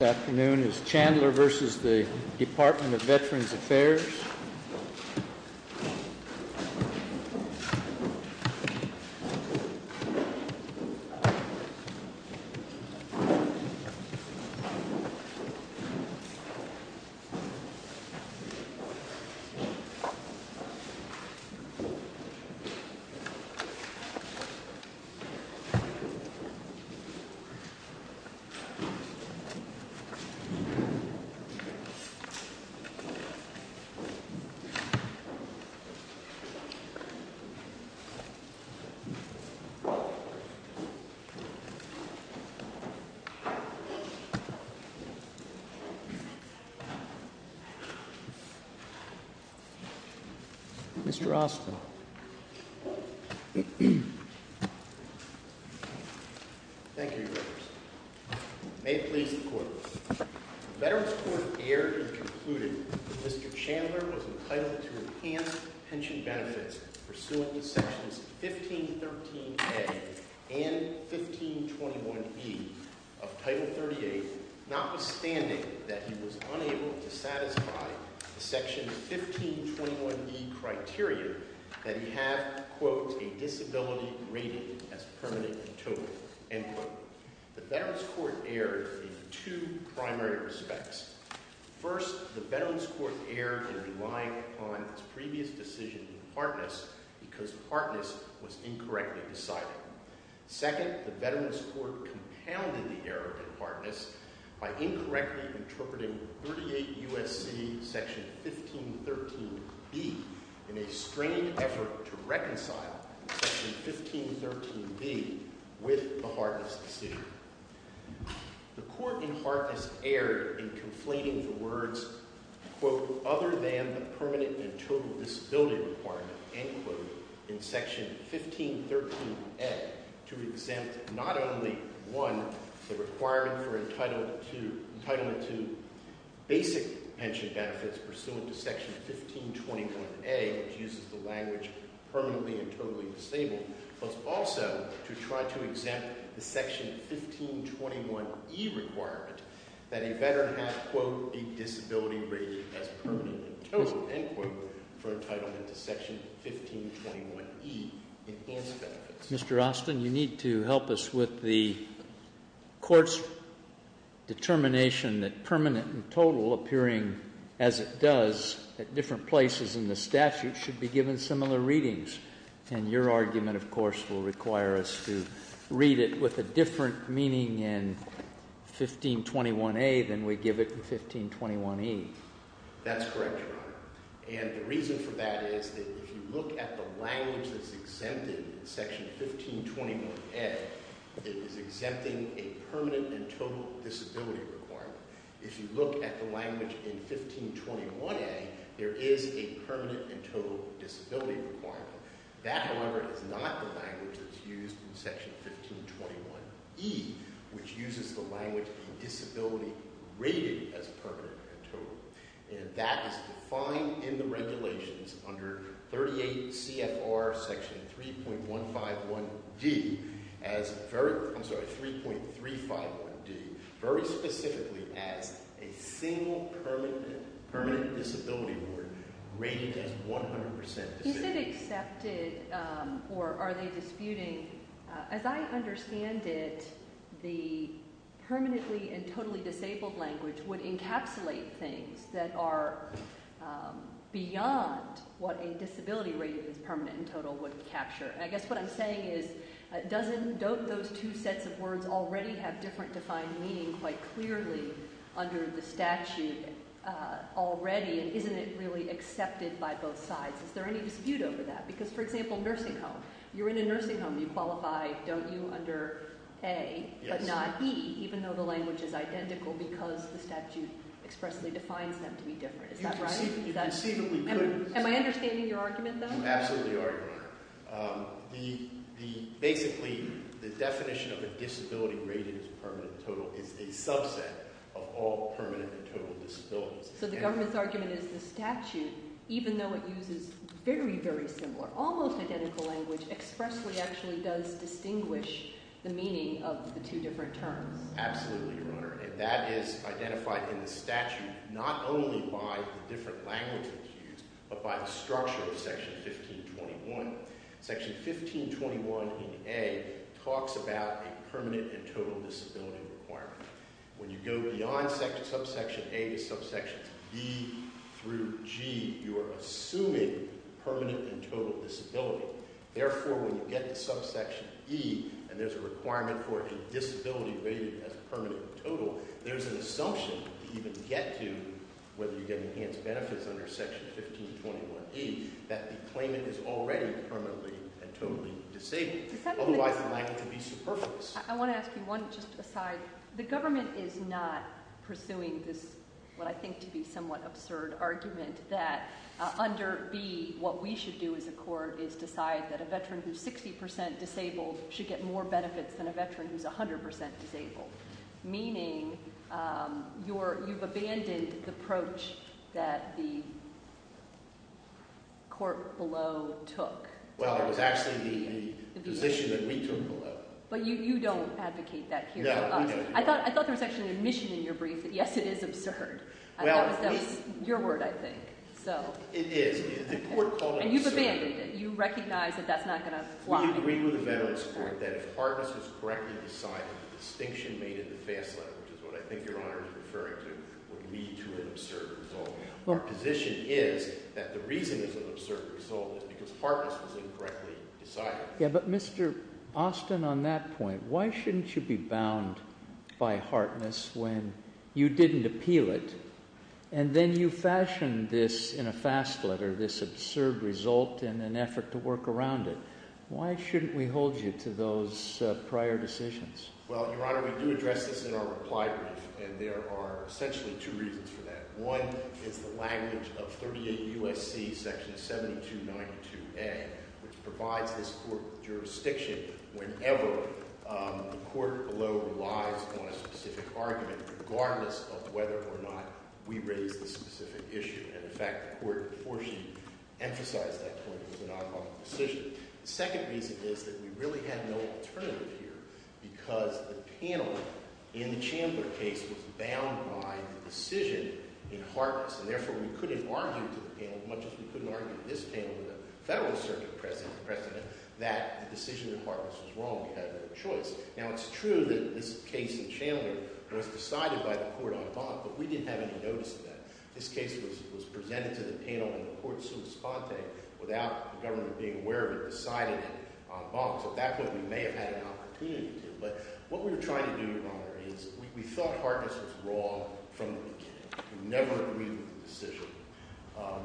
This afternoon is Chandler v. Department of Veterans Affairs. Mr. Austin, thank you, Your Honor. May it please the Court. The Veterans Court erred in concluding that Mr. Chandler was entitled to enhanced pension benefits pursuant to Sections 1513A and 1521B of Title 38, notwithstanding that he was unable to satisfy the Section 1521B criteria that he had, quote, a disability rating as permanent and total, end quote. The Veterans Court erred in two primary respects. First, the Veterans Court erred in relying upon its previous decision in Partness because Partness was incorrectly decided. Second, the Veterans Court compounded the error in Partness by incorrectly interpreting 38 U.S.C. Section 1513B in a stringent effort to reconcile Section 1513B with the Hartness decision. The Court in Hartness erred in conflating the words, quote, other than the permanent and total disability requirement, end quote, in Section 1513A to exempt not only, one, the requirement for entitlement to basic pension benefits pursuant to Section 1521A, which uses the language permanently and totally disabled, but also to try to exempt the Section 1521E requirement that a veteran have, quote, a disability rating as permanent and total, end quote, for entitlement to Section 1521E enhanced benefits. Mr. Austin, you need to help us with the Court's determination that permanent and total appearing as it does at different places in the statute should be given similar readings. And your argument, of course, will require us to read it with a different meaning in 1521A than we give it in 1521E. That's correct, Your Honor. And the reason for that is that if you look at the language that's exempted in Section 1521A, it is exempting a permanent and total disability requirement. If you look at the language in 1521A, there is a permanent and total disability requirement. That, however, is not the language that's used in Section 1521E, which uses the language disability rating as permanent and total. And that is defined in the regulations under 38 CFR Section 3.151D as very – I'm sorry, 3.351D very specifically as a single permanent disability award rated as 100% disability. Is it accepted or are they disputing – as I understand it, the permanently and totally disabled language would encapsulate things that are beyond what a disability rated as permanent and total would capture. And I guess what I'm saying is don't those two sets of words already have different defined meaning quite clearly under the statute already, and isn't it really accepted by both sides? Is there any dispute over that? Because, for example, nursing home. You're in a nursing home. You qualify, don't you, under A, but not E, even though the language is identical because the statute expressly defines them to be different. Is that right? You conceivably could. Am I understanding your argument, though? You absolutely are, Your Honor. The – basically, the definition of a disability rated as permanent and total is a subset of all permanent and total disabilities. So the government's argument is the statute, even though it uses very, very similar, almost identical language, expressly actually does distinguish the meaning of the two different terms. Absolutely, Your Honor. And that is identified in the statute not only by the different languages used but by the structure of Section 1521. Section 1521 in A talks about a permanent and total disability requirement. When you go beyond subsection A to subsection B through G, you are assuming permanent and total disability. Therefore, when you get to subsection E and there's a requirement for a disability rated as permanent and total, there's an assumption to even get to whether you get enhanced benefits under Section 1521E that the claimant is already permanently and totally disabled, otherwise likely to be superfluous. I want to ask you one just aside. The government is not pursuing this what I think to be somewhat absurd argument that under B what we should do as a court is decide that a veteran who's 60% disabled should get more benefits than a veteran who's 100% disabled, meaning you've abandoned the approach that the court below took. Well, it was actually the position that we took below. But you don't advocate that here. No, we don't. I thought there was actually an admission in your brief that, yes, it is absurd. That was your word, I think, so. It is. The court called it absurd. And you've abandoned it. You recognize that that's not going to fly. We agree with the Veterans Court that if Hartness was correctly decided, the distinction made in the FAST letter, which is what I think Your Honor is referring to, would lead to an absurd result. Our position is that the reason it's an absurd result is because Hartness was incorrectly decided. Yeah, but Mr. Austin, on that point, why shouldn't you be bound by Hartness when you didn't appeal it and then you fashioned this in a FAST letter, this absurd result, in an effort to work around it? Why shouldn't we hold you to those prior decisions? Well, Your Honor, we do address this in our reply brief, and there are essentially two reasons for that. One is the language of 38 U.S.C. Section 7292A, which provides this court with jurisdiction whenever the court below relies on a specific argument, regardless of whether or not we raise the specific issue. And, in fact, the court unfortunately emphasized that point. It was an oddball decision. The second reason is that we really had no alternative here because the panel in the Chandler case was bound by the decision in Hartness. And, therefore, we couldn't argue to the panel as much as we couldn't argue to this panel, the Federal Circuit President, that the decision in Hartness was wrong. We had no choice. Now, it's true that this case in Chandler was decided by the court en banc, but we didn't have any notice of that. This case was presented to the panel in the court sui sponte without the government being aware of it deciding it en banc. So, at that point, we may have had an opportunity to. But what we were trying to do, Your Honor, is we thought Hartness was wrong from the beginning. We never agreed with the decision.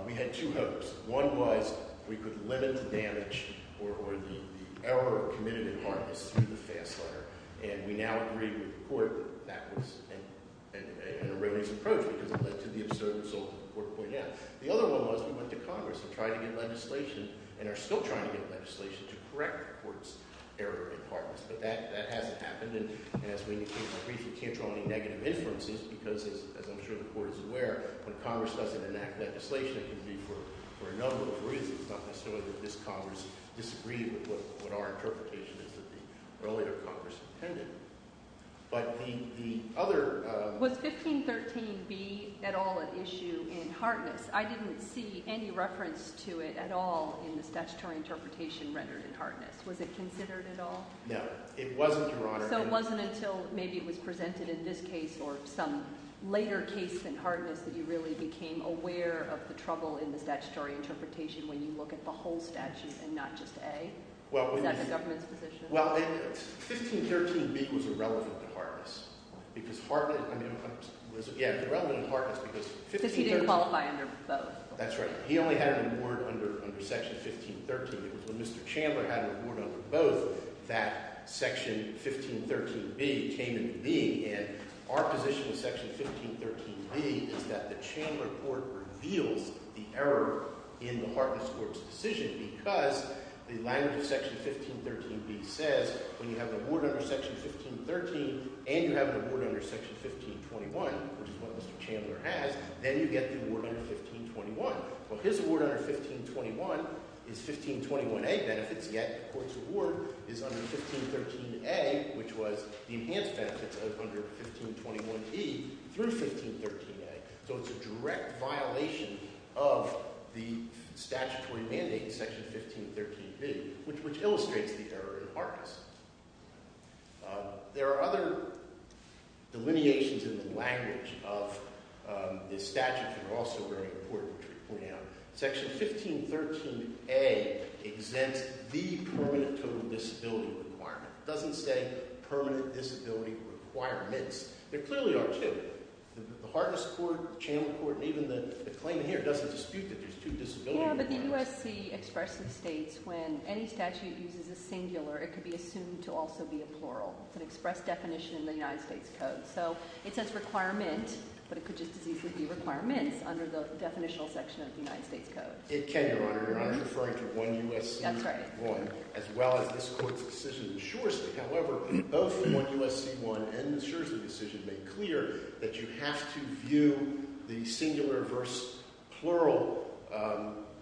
We had two hopes. One was we could limit the damage or the error committed in Hartness through the FAS letter, and we now agree with the court that that was an erroneous approach because it led to the absurd result that the court pointed out. The other one was we went to Congress and tried to get legislation and are still trying to get legislation to correct the court's error in Hartness. But that hasn't happened, and as we indicated in brief, we can't draw any negative inferences because, as I'm sure the court is aware, when Congress doesn't enact legislation, it can be for a number of reasons, not necessarily that this Congress disagreed with what our interpretation is that the earlier Congress intended. But the other— Was 1513B at all an issue in Hartness? I didn't see any reference to it at all in the statutory interpretation rendered in Hartness. Was it considered at all? No, it wasn't, Your Honor. So it wasn't until maybe it was presented in this case or some later case in Hartness that you really became aware of the trouble in the statutory interpretation when you look at the whole statute and not just A? Is that the government's position? Well, 1513B was irrelevant to Hartness because Hartness— I mean, it was irrelevant to Hartness because 1513— Because he didn't qualify under both. That's right. He only had an award under Section 1513. It was when Mr. Chandler had an award under both that Section 1513B came into being, and our position with Section 1513B is that the Chandler court reveals the error in the Hartness court's decision because the language of Section 1513B says when you have an award under Section 1513 and you have an award under Section 1521, which is what Mr. Chandler has, then you get the award under 1521. Well, his award under 1521 is 1521A benefits, yet the court's award is under 1513A, which was the enhanced benefits under 1521E through 1513A. So it's a direct violation of the statutory mandate in Section 1513B, which illustrates the error in Hartness. There are other delineations in the language of this statute that are also very important, which are pointed out. Section 1513A exempts the permanent total disability requirement. It doesn't say permanent disability requirements. There clearly are two. The Hartness court, the Chandler court, and even the claimant here doesn't dispute that there's two disability requirements. Yeah, but the USC expressly states when any statute uses a singular, it could be assumed to also be a plural. It's an express definition in the United States Code. So it says requirement, but it could just as easily be requirements under the definitional section of the United States Code. It can, Your Honor. Your Honor, you're referring to 1 U.S.C. 1. That's right. As well as this court's decision in Shoresley. However, both 1 U.S.C. 1 and the Shoresley decision make clear that you have to view the singular versus plural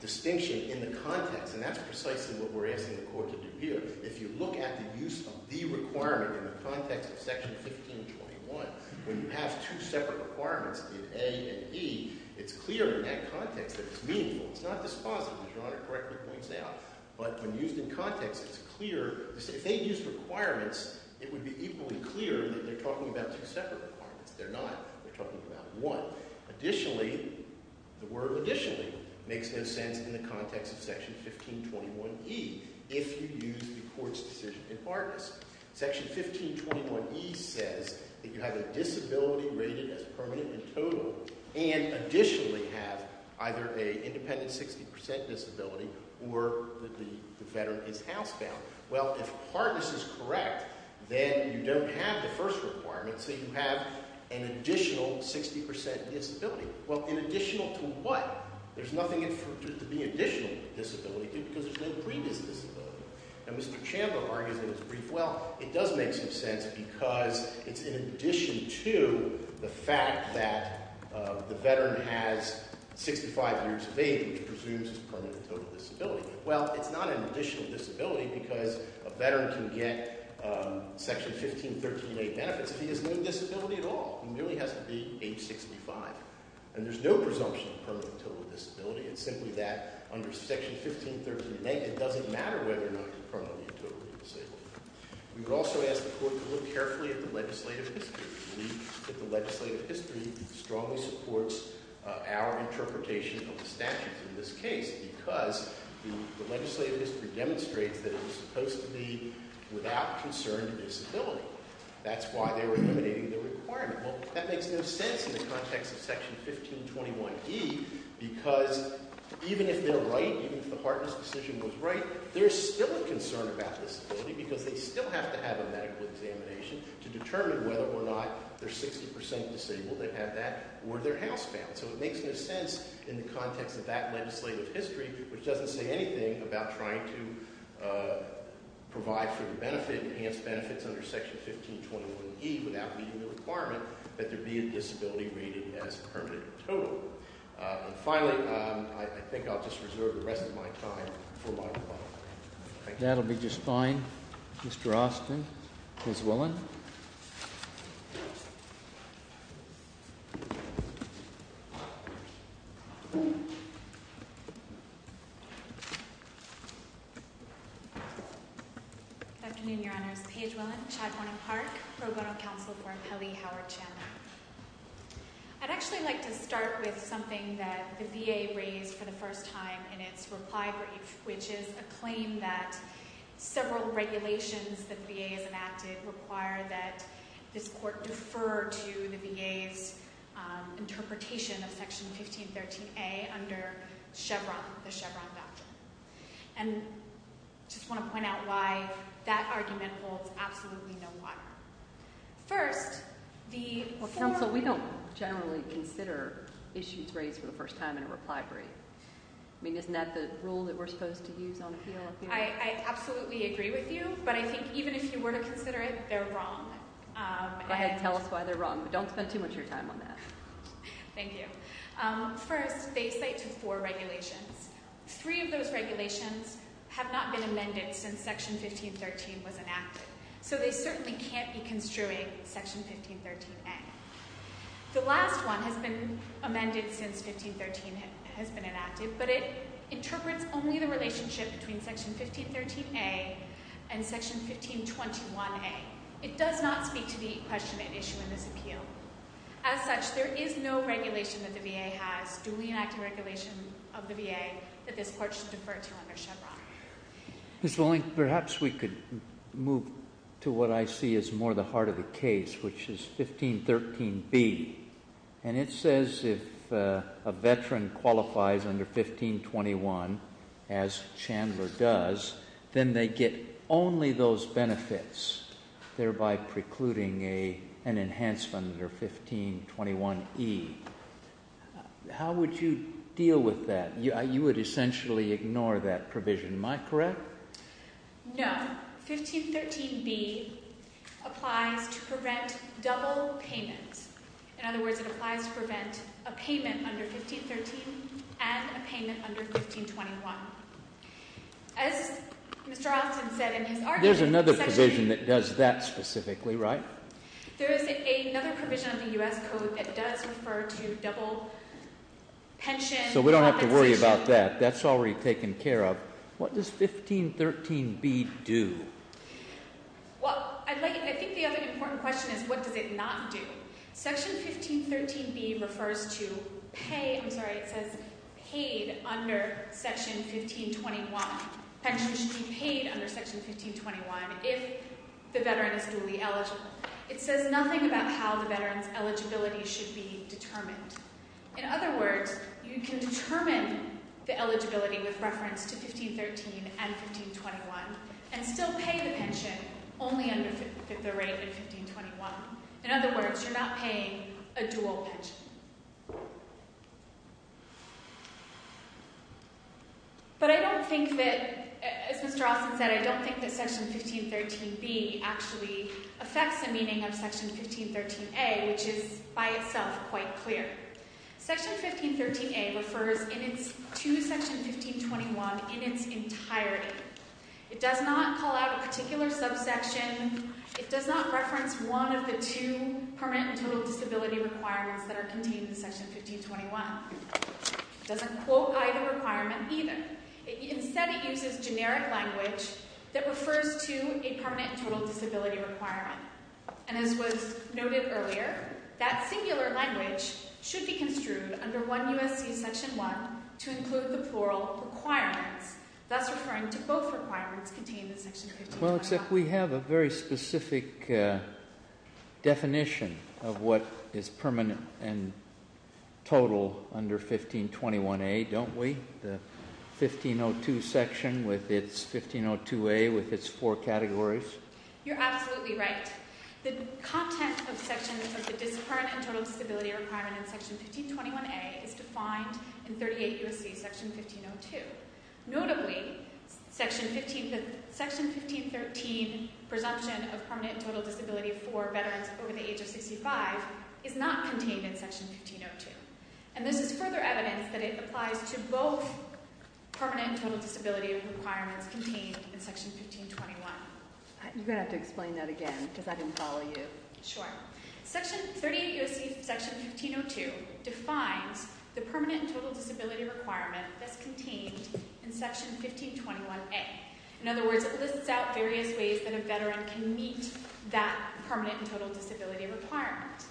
distinction in the context, and that's precisely what we're asking the court to do here. If you look at the use of the requirement in the context of Section 1521, when you have two separate requirements in A and E, it's clear in that context that it's meaningful. It's not dispositive, as Your Honor correctly points out. But when used in context, it's clear. If they used requirements, it would be equally clear that they're talking about two separate requirements. They're not. They're talking about one. Additionally, the word additionally makes no sense in the context of Section 1521E. If you use the court's decision in hardness. Section 1521E says that you have a disability rated as permanent and total, and additionally have either an independent 60% disability or the veteran is housebound. Well, if hardness is correct, then you don't have the first requirement, so you have an additional 60% disability. Well, an additional to what? There's nothing to be additional disability to because there's no previous disability. And Mr. Chamba argues in his brief, well, it does make some sense because it's in addition to the fact that the veteran has 65 years of age, which presumes his permanent and total disability. Well, it's not an additional disability because a veteran can get Section 1513A benefits if he has no disability at all. He merely has to be age 65. And there's no presumption of permanent and total disability. It's simply that under Section 1513A, it doesn't matter whether or not you're permanent and totally disabled. We would also ask the court to look carefully at the legislative history. We believe that the legislative history strongly supports our interpretation of the statutes in this case because the legislative history demonstrates that it was supposed to be without concern to disability. That's why they were eliminating the requirement. Well, that makes no sense in the context of Section 1521E because even if they're right, even if the Hartman's decision was right, there's still a concern about disability because they still have to have a medical examination to determine whether or not they're 60% disabled, they have that, or they're housebound. So it makes no sense in the context of that legislative history, which doesn't say anything about trying to provide for the benefit, enhance benefits under Section 1521E without meeting the requirement that there be a disability rating as permanent and total. And finally, I think I'll just reserve the rest of my time for Michael Butler. Thank you. That'll be just fine. Mr. Austin. Ms. Willen. Good afternoon, Your Honors. Paige Willen, Chad Warner Park, Pro Bono Council for Pele, Howard Chandler. I'd actually like to start with something that the VA raised for the first time in its reply brief, which is a claim that several regulations that the VA has enacted require that this court defer to the VA's interpretation of Section 1513A under Chevron, the Chevron doctrine. And I just want to point out why that argument holds absolutely no water. First, the form… Well, counsel, we don't generally consider issues raised for the first time in a reply brief. I mean, isn't that the rule that we're supposed to use on appeal? I absolutely agree with you, but I think even if you were to consider it, they're wrong. Go ahead and tell us why they're wrong, but don't spend too much of your time on that. Thank you. First, they cite to four regulations. Three of those regulations have not been amended since Section 1513 was enacted, so they certainly can't be construing Section 1513A. The last one has been amended since 1513 has been enacted, but it interprets only the relationship between Section 1513A and Section 1521A. It does not speak to the question at issue in this appeal. As such, there is no regulation that the VA has, duly enacted regulation of the VA, that this court should defer to under Chevron. Ms. Volink, perhaps we could move to what I see as more the heart of the case, which is 1513B, and it says if a veteran qualifies under 1521, as Chandler does, then they get only those benefits, thereby precluding an enhancement under 1521E. How would you deal with that? You would essentially ignore that provision. Am I correct? No. 1513B applies to prevent double payment. In other words, it applies to prevent a payment under 1513 and a payment under 1521. As Mr. Austin said in his argument, Section 1513A- There's another provision that does that specifically, right? There is another provision of the U.S. Code that does refer to double pension- So we don't have to worry about that. That's already taken care of. What does 1513B do? Well, I think the other important question is what does it not do? Section 1513B refers to pay-I'm sorry, it says paid under Section 1521. Pension should be paid under Section 1521 if the veteran is duly eligible. It says nothing about how the veteran's eligibility should be determined. In other words, you can determine the eligibility with reference to 1513 and 1521 and still pay the pension only under the rate of 1521. In other words, you're not paying a dual pension. But I don't think that, as Mr. Austin said, I don't think that Section 1513B actually affects the meaning of Section 1513A, which is by itself quite clear. Section 1513A refers to Section 1521 in its entirety. It does not call out a particular subsection. It does not reference one of the two permanent and total disability requirements that are contained in Section 1521. It doesn't quote either requirement either. Instead, it uses generic language that refers to a permanent and total disability requirement. And as was noted earlier, that singular language should be construed under 1 U.S.C. Section 1 to include the plural requirements, thus referring to both requirements contained in Section 1521. Well, except we have a very specific definition of what is permanent and total under 1521A, don't we? The 1502 section with its 1502A with its four categories? You're absolutely right. The content of sections of the permanent and total disability requirement in Section 1521A is defined in 38 U.S.C. Section 1502. Notably, Section 1513, presumption of permanent and total disability for veterans over the age of 65, is not contained in Section 1502. And this is further evidence that it applies to both permanent and total disability requirements contained in Section 1521. You're going to have to explain that again because I didn't follow you. Sure. Section 38 U.S.C. Section 1502 defines the permanent and total disability requirement that's contained in Section 1521A. In other words, it lists out various ways that a veteran can meet that permanent and total disability requirement.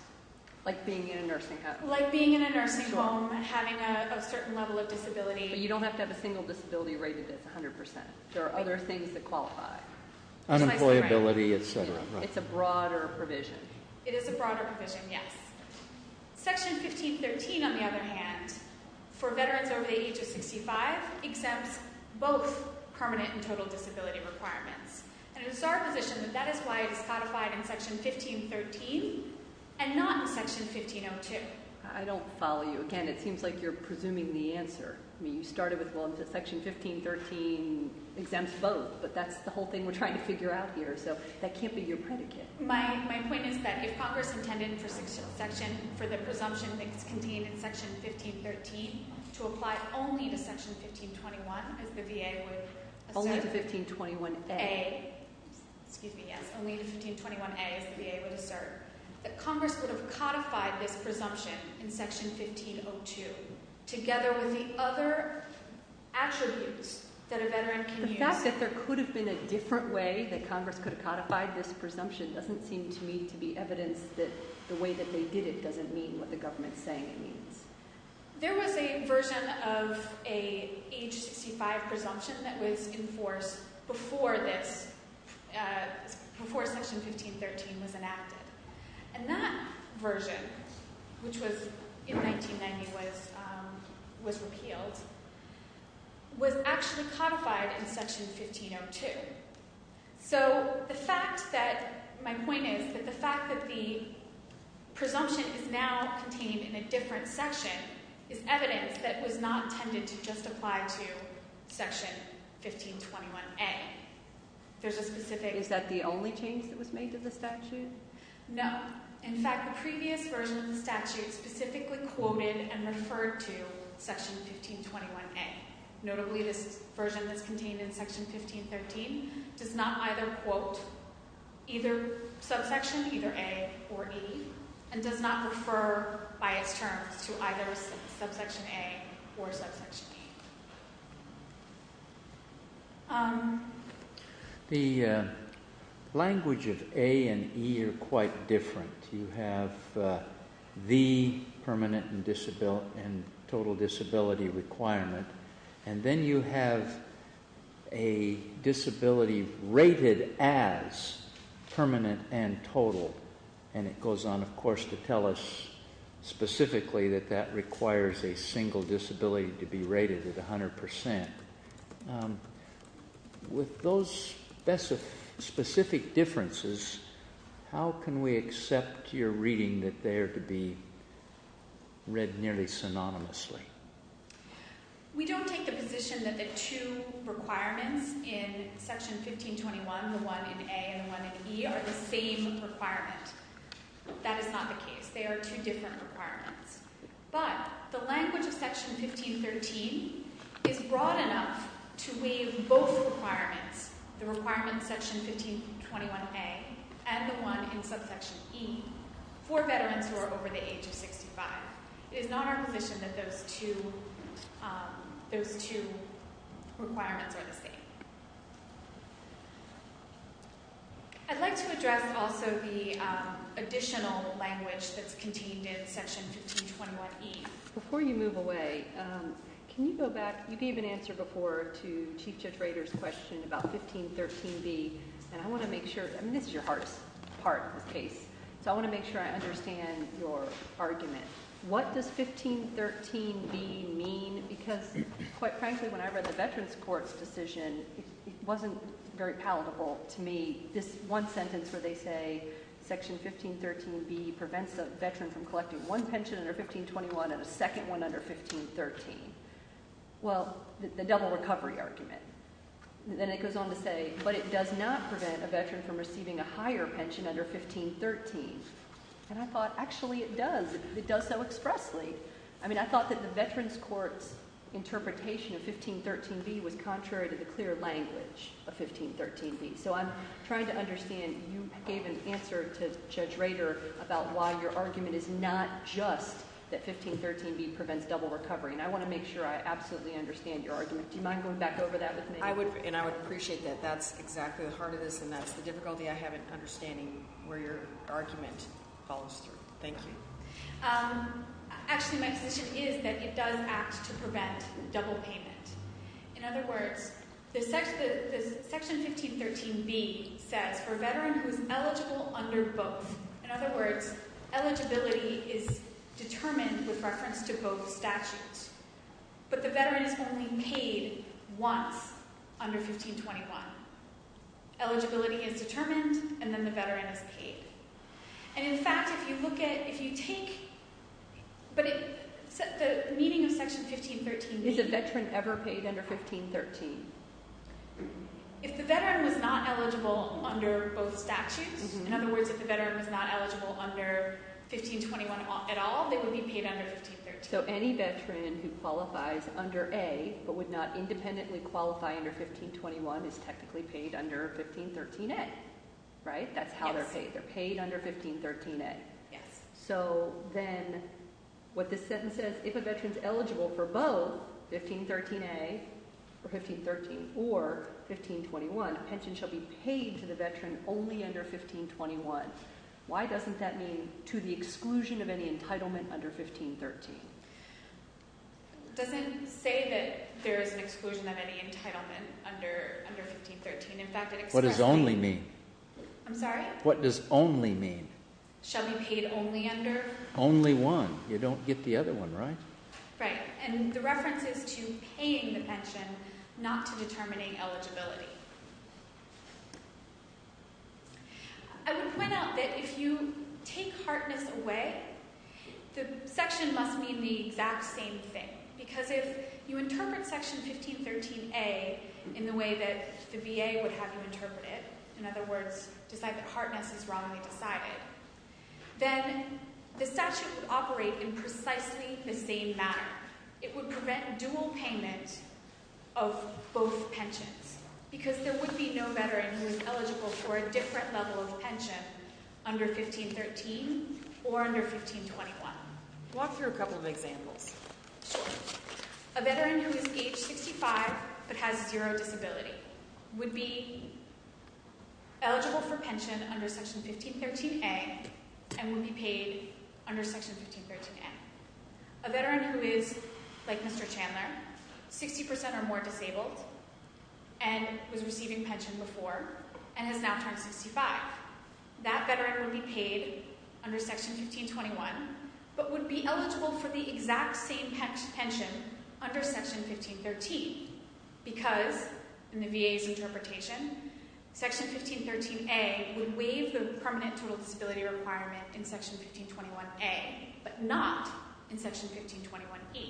Like being in a nursing home. Like being in a nursing home and having a certain level of disability. But you don't have to have a single disability rated as 100%. There are other things that qualify. Unemployability, etc. It's a broader provision. It is a broader provision, yes. Section 1513, on the other hand, for veterans over the age of 65, exempts both permanent and total disability requirements. And it is our position that that is why it is codified in Section 1513 and not in Section 1502. I don't follow you. Again, it seems like you're presuming the answer. I mean, you started with, well, Section 1513 exempts both. But that's the whole thing we're trying to figure out here. So that can't be your predicate. My point is that if Congress intended for the presumption that's contained in Section 1513 to apply only to Section 1521, as the VA would assert. Only to 1521A. Excuse me, yes. Only to 1521A, as the VA would assert, that Congress would have codified this presumption in Section 1502 together with the other attributes that a veteran can use. The fact that there could have been a different way that Congress could have codified this presumption doesn't seem to me to be evidence that the way that they did it doesn't mean what the government is saying it means. There was a version of an age 65 presumption that was enforced before Section 1513 was enacted. And that version, which in 1990 was repealed, was actually codified in Section 1502. So my point is that the fact that the presumption is now contained in a different section is evidence that it was not intended to just apply to Section 1521A. Is that the only change that was made to the statute? No. In fact, the previous version of the statute specifically quoted and referred to Section 1521A. Notably, this version that's contained in Section 1513 does not either quote either subsection, either A or E, and does not refer by its terms to either subsection A or subsection E. The language of A and E are quite different. You have the permanent and total disability requirement, and then you have a disability rated as permanent and total. And it goes on, of course, to tell us specifically that that requires a single disability to be rated at 100%. With those specific differences, how can we accept your reading that they are to be read nearly synonymously? We don't take the position that the two requirements in Section 1521, the one in A and the one in E, are the same requirement. That is not the case. They are two different requirements. But the language of Section 1513 is broad enough to waive both requirements, the requirement in Section 1521A and the one in subsection E, for veterans who are over the age of 65. It is not our position that those two requirements are the same. I'd like to address also the additional language that's contained in Section 1521E. Before you move away, can you go back? You gave an answer before to Chief Judge Rader's question about 1513B, and I want to make sure, and this is your heart's part of the case, so I want to make sure I understand your argument. What does 1513B mean? Because, quite frankly, when I read the Veterans Court's decision, it wasn't very palatable to me. This one sentence where they say Section 1513B prevents a veteran from collecting one pension under 1521 and a second one under 1513. Well, the double recovery argument. Then it goes on to say, but it does not prevent a veteran from receiving a higher pension under 1513. And I thought, actually it does. It does so expressly. I mean, I thought that the Veterans Court's interpretation of 1513B was contrary to the clear language of 1513B. So I'm trying to understand. You gave an answer to Judge Rader about why your argument is not just that 1513B prevents double recovery, and I want to make sure I absolutely understand your argument. Do you mind going back over that with me? I would, and I would appreciate that. That's exactly the heart of this, and that's the difficulty I have in understanding where your argument follows through. Thank you. Actually, my position is that it does act to prevent double payment. In other words, Section 1513B says for a veteran who is eligible under both, in other words, eligibility is determined with reference to both statutes, but the veteran is only paid once under 1521. Eligibility is determined, and then the veteran is paid. And in fact, if you look at, if you take, but the meaning of Section 1513B… Is a veteran ever paid under 1513? If the veteran was not eligible under both statutes, in other words, if the veteran was not eligible under 1521 at all, they would be paid under 1513. So any veteran who qualifies under A but would not independently qualify under 1521 is technically paid under 1513A, right? That's how they're paid. They're paid under 1513A. So then what this sentence says, if a veteran is eligible for both 1513A or 1513 or 1521, a pension shall be paid to the veteran only under 1521. Why doesn't that mean to the exclusion of any entitlement under 1513? It doesn't say that there is an exclusion of any entitlement under 1513. In fact, it expresses… What does only mean? I'm sorry? What does only mean? Shall be paid only under? Only one. You don't get the other one, right? Right. And the reference is to paying the pension, not to determining eligibility. I would point out that if you take hardness away, the section must mean the exact same thing. Because if you interpret section 1513A in the way that the VA would have you interpret it, in other words, decide that hardness is wrongly decided, then the statute would operate in precisely the same manner. It would prevent dual payment of both pensions. Because there would be no veteran who is eligible for a different level of pension under 1513 or under 1521. Walk through a couple of examples. A veteran who is age 65 but has zero disability would be eligible for pension under section 1513A and would be paid under section 1513A. A veteran who is, like Mr. Chandler, 60% or more disabled and was receiving pension before and has now turned 65. That veteran would be paid under section 1521 but would be eligible for the exact same pension under section 1513. Because, in the VA's interpretation, section 1513A would waive the permanent total disability requirement in section 1521A but not in section 1521E.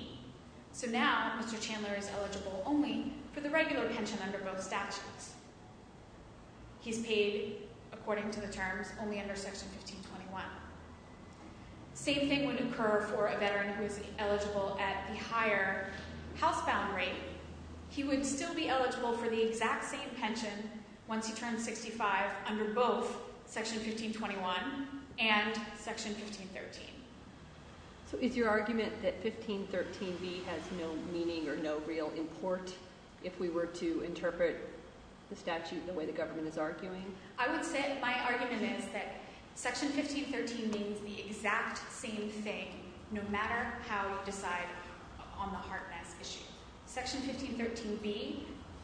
So now Mr. Chandler is eligible only for the regular pension under both statutes. He's paid, according to the terms, only under section 1521. Same thing would occur for a veteran who is eligible at the higher housebound rate. He would still be eligible for the exact same pension once he turns 65 under both section 1521 and section 1513. So is your argument that 1513B has no meaning or no real import if we were to interpret the statute the way the government is arguing? I would say my argument is that section 1513 means the exact same thing no matter how you decide on the HARTNESS issue. Section 1513B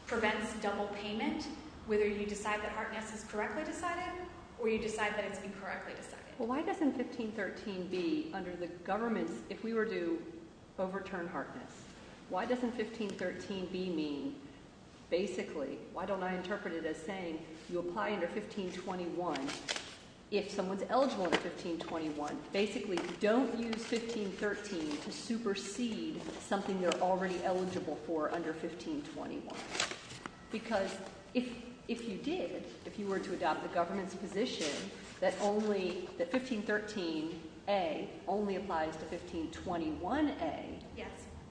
prevents double payment whether you decide that HARTNESS is correctly decided or you decide that it's incorrectly decided. Well, why doesn't 1513B, under the government's, if we were to overturn HARTNESS, why doesn't 1513B mean, basically, why don't I interpret it as saying you apply under 1521 if someone's eligible under 1521? Basically, don't use 1513 to supersede something you're already eligible for under 1521. Because if you did, if you were to adopt the government's position that 1513A only applies to 1521A,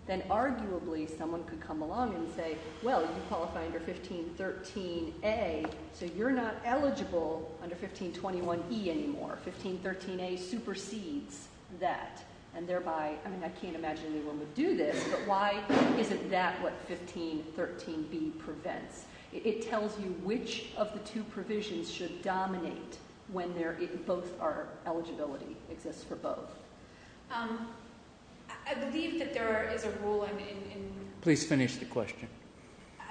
then arguably someone could come along and say, well, you qualify under 1513A, so you're not eligible under 1521E anymore. 1513A supersedes that, and thereby, I mean, I can't imagine anyone would do this, but why isn't that what 1513B prevents? It tells you which of the two provisions should dominate when there, if both are, eligibility exists for both. I believe that there is a rule in... Please finish the question.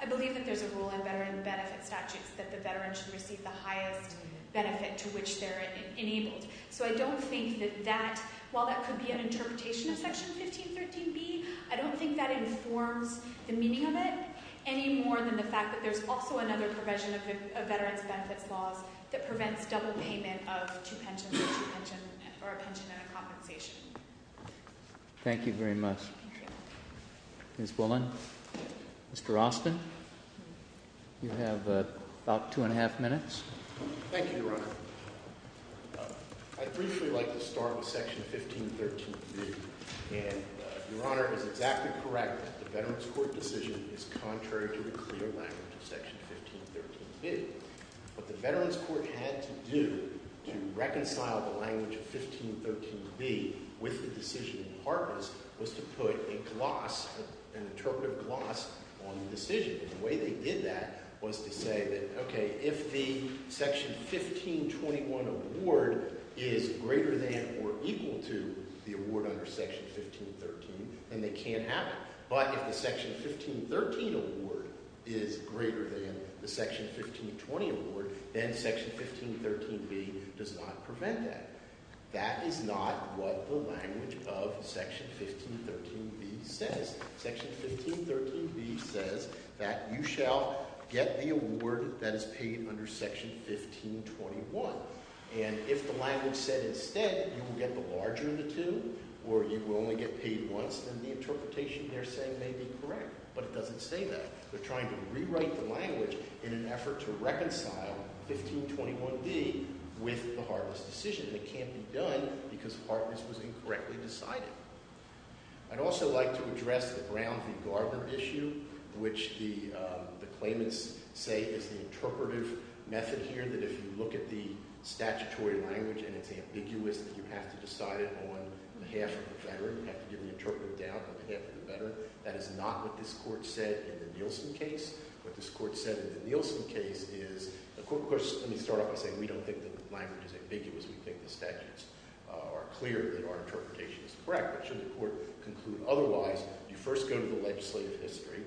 I believe that there's a rule in veteran benefit statutes that the veteran should receive the highest benefit to which they're enabled. So I don't think that that, while that could be an interpretation of Section 1513B, I don't think that informs the meaning of it any more than the fact that there's also another provision of veterans' benefits laws that prevents double payment of two pensions or a pension and a compensation. Thank you very much. Thank you. Ms. Bullen? Mr. Austin? You have about two and a half minutes. Thank you, Your Honor. I'd briefly like to start with Section 1513B, and Your Honor is exactly correct. The Veterans Court decision is contrary to the clear language of Section 1513B. What the Veterans Court had to do to reconcile the language of 1513B with the decision in Harkness was to put a gloss, an interpretive gloss on the decision. And the way they did that was to say that, okay, if the Section 1521 award is greater than or equal to the award under Section 1513, then they can't have it. But if the Section 1513 award is greater than the Section 1520 award, then Section 1513B does not prevent that. That is not what the language of Section 1513B says. Section 1513B says that you shall get the award that is paid under Section 1521. And if the language said instead you will get the larger of the two or you will only get paid once, then the interpretation they're saying may be correct. But it doesn't say that. They're trying to rewrite the language in an effort to reconcile 1521B with the Harkness decision. And it can't be done because Harkness was incorrectly decided. I'd also like to address the Brown v. Garber issue, which the claimants say is the interpretive method here, that if you look at the statutory language and it's ambiguous that you have to decide it on behalf of the veteran. You have to give the interpretive doubt on behalf of the veteran. That is not what this court said in the Nielsen case. What this court said in the Nielsen case is, of course, let me start off by saying we don't think the language is ambiguous. We think the statutes are clear that our interpretation is correct. But should the court conclude otherwise, you first go to the legislative history.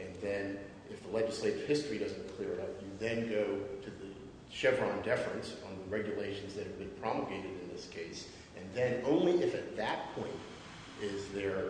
And then if the legislative history doesn't clear it up, you then go to the Chevron deference on the regulations that have been promulgated in this case. And then only if at that point is there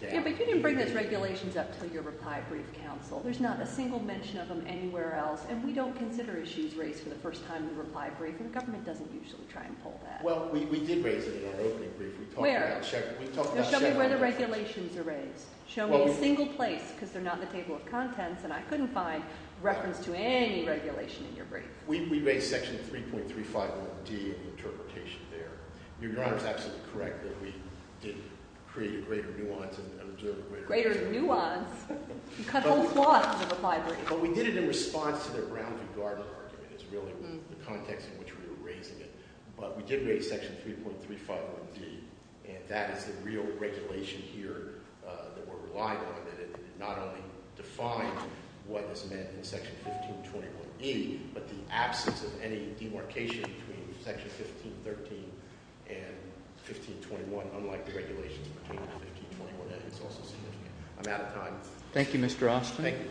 doubt. But you didn't bring those regulations up until your reply brief counsel. There's not a single mention of them anywhere else. And we don't consider issues raised for the first time in the reply brief. And the government doesn't usually try and pull that. Well, we did raise it in our opening brief. Where? We talked about Chevron. Show me where the regulations are raised. Show me a single place because they're not in the table of contents. And I couldn't find reference to any regulation in your brief. We raised section 3.351D, the interpretation there. Your Honor is absolutely correct that we did create a greater nuance and observed a greater nuance. Greater nuance? You cut whole plots in the reply brief. But we did it in response to the Brown v. Gardner argument is really the context in which we were raising it. But we did raise section 3.351D. And that is the real regulation here that we're relying on. It not only defined what was meant in section 1521E, but the absence of any demarcation between section 1513 and 1521, unlike the regulations between 1521A. It's also significant. I'm out of time. Thank you, Mr. Austin.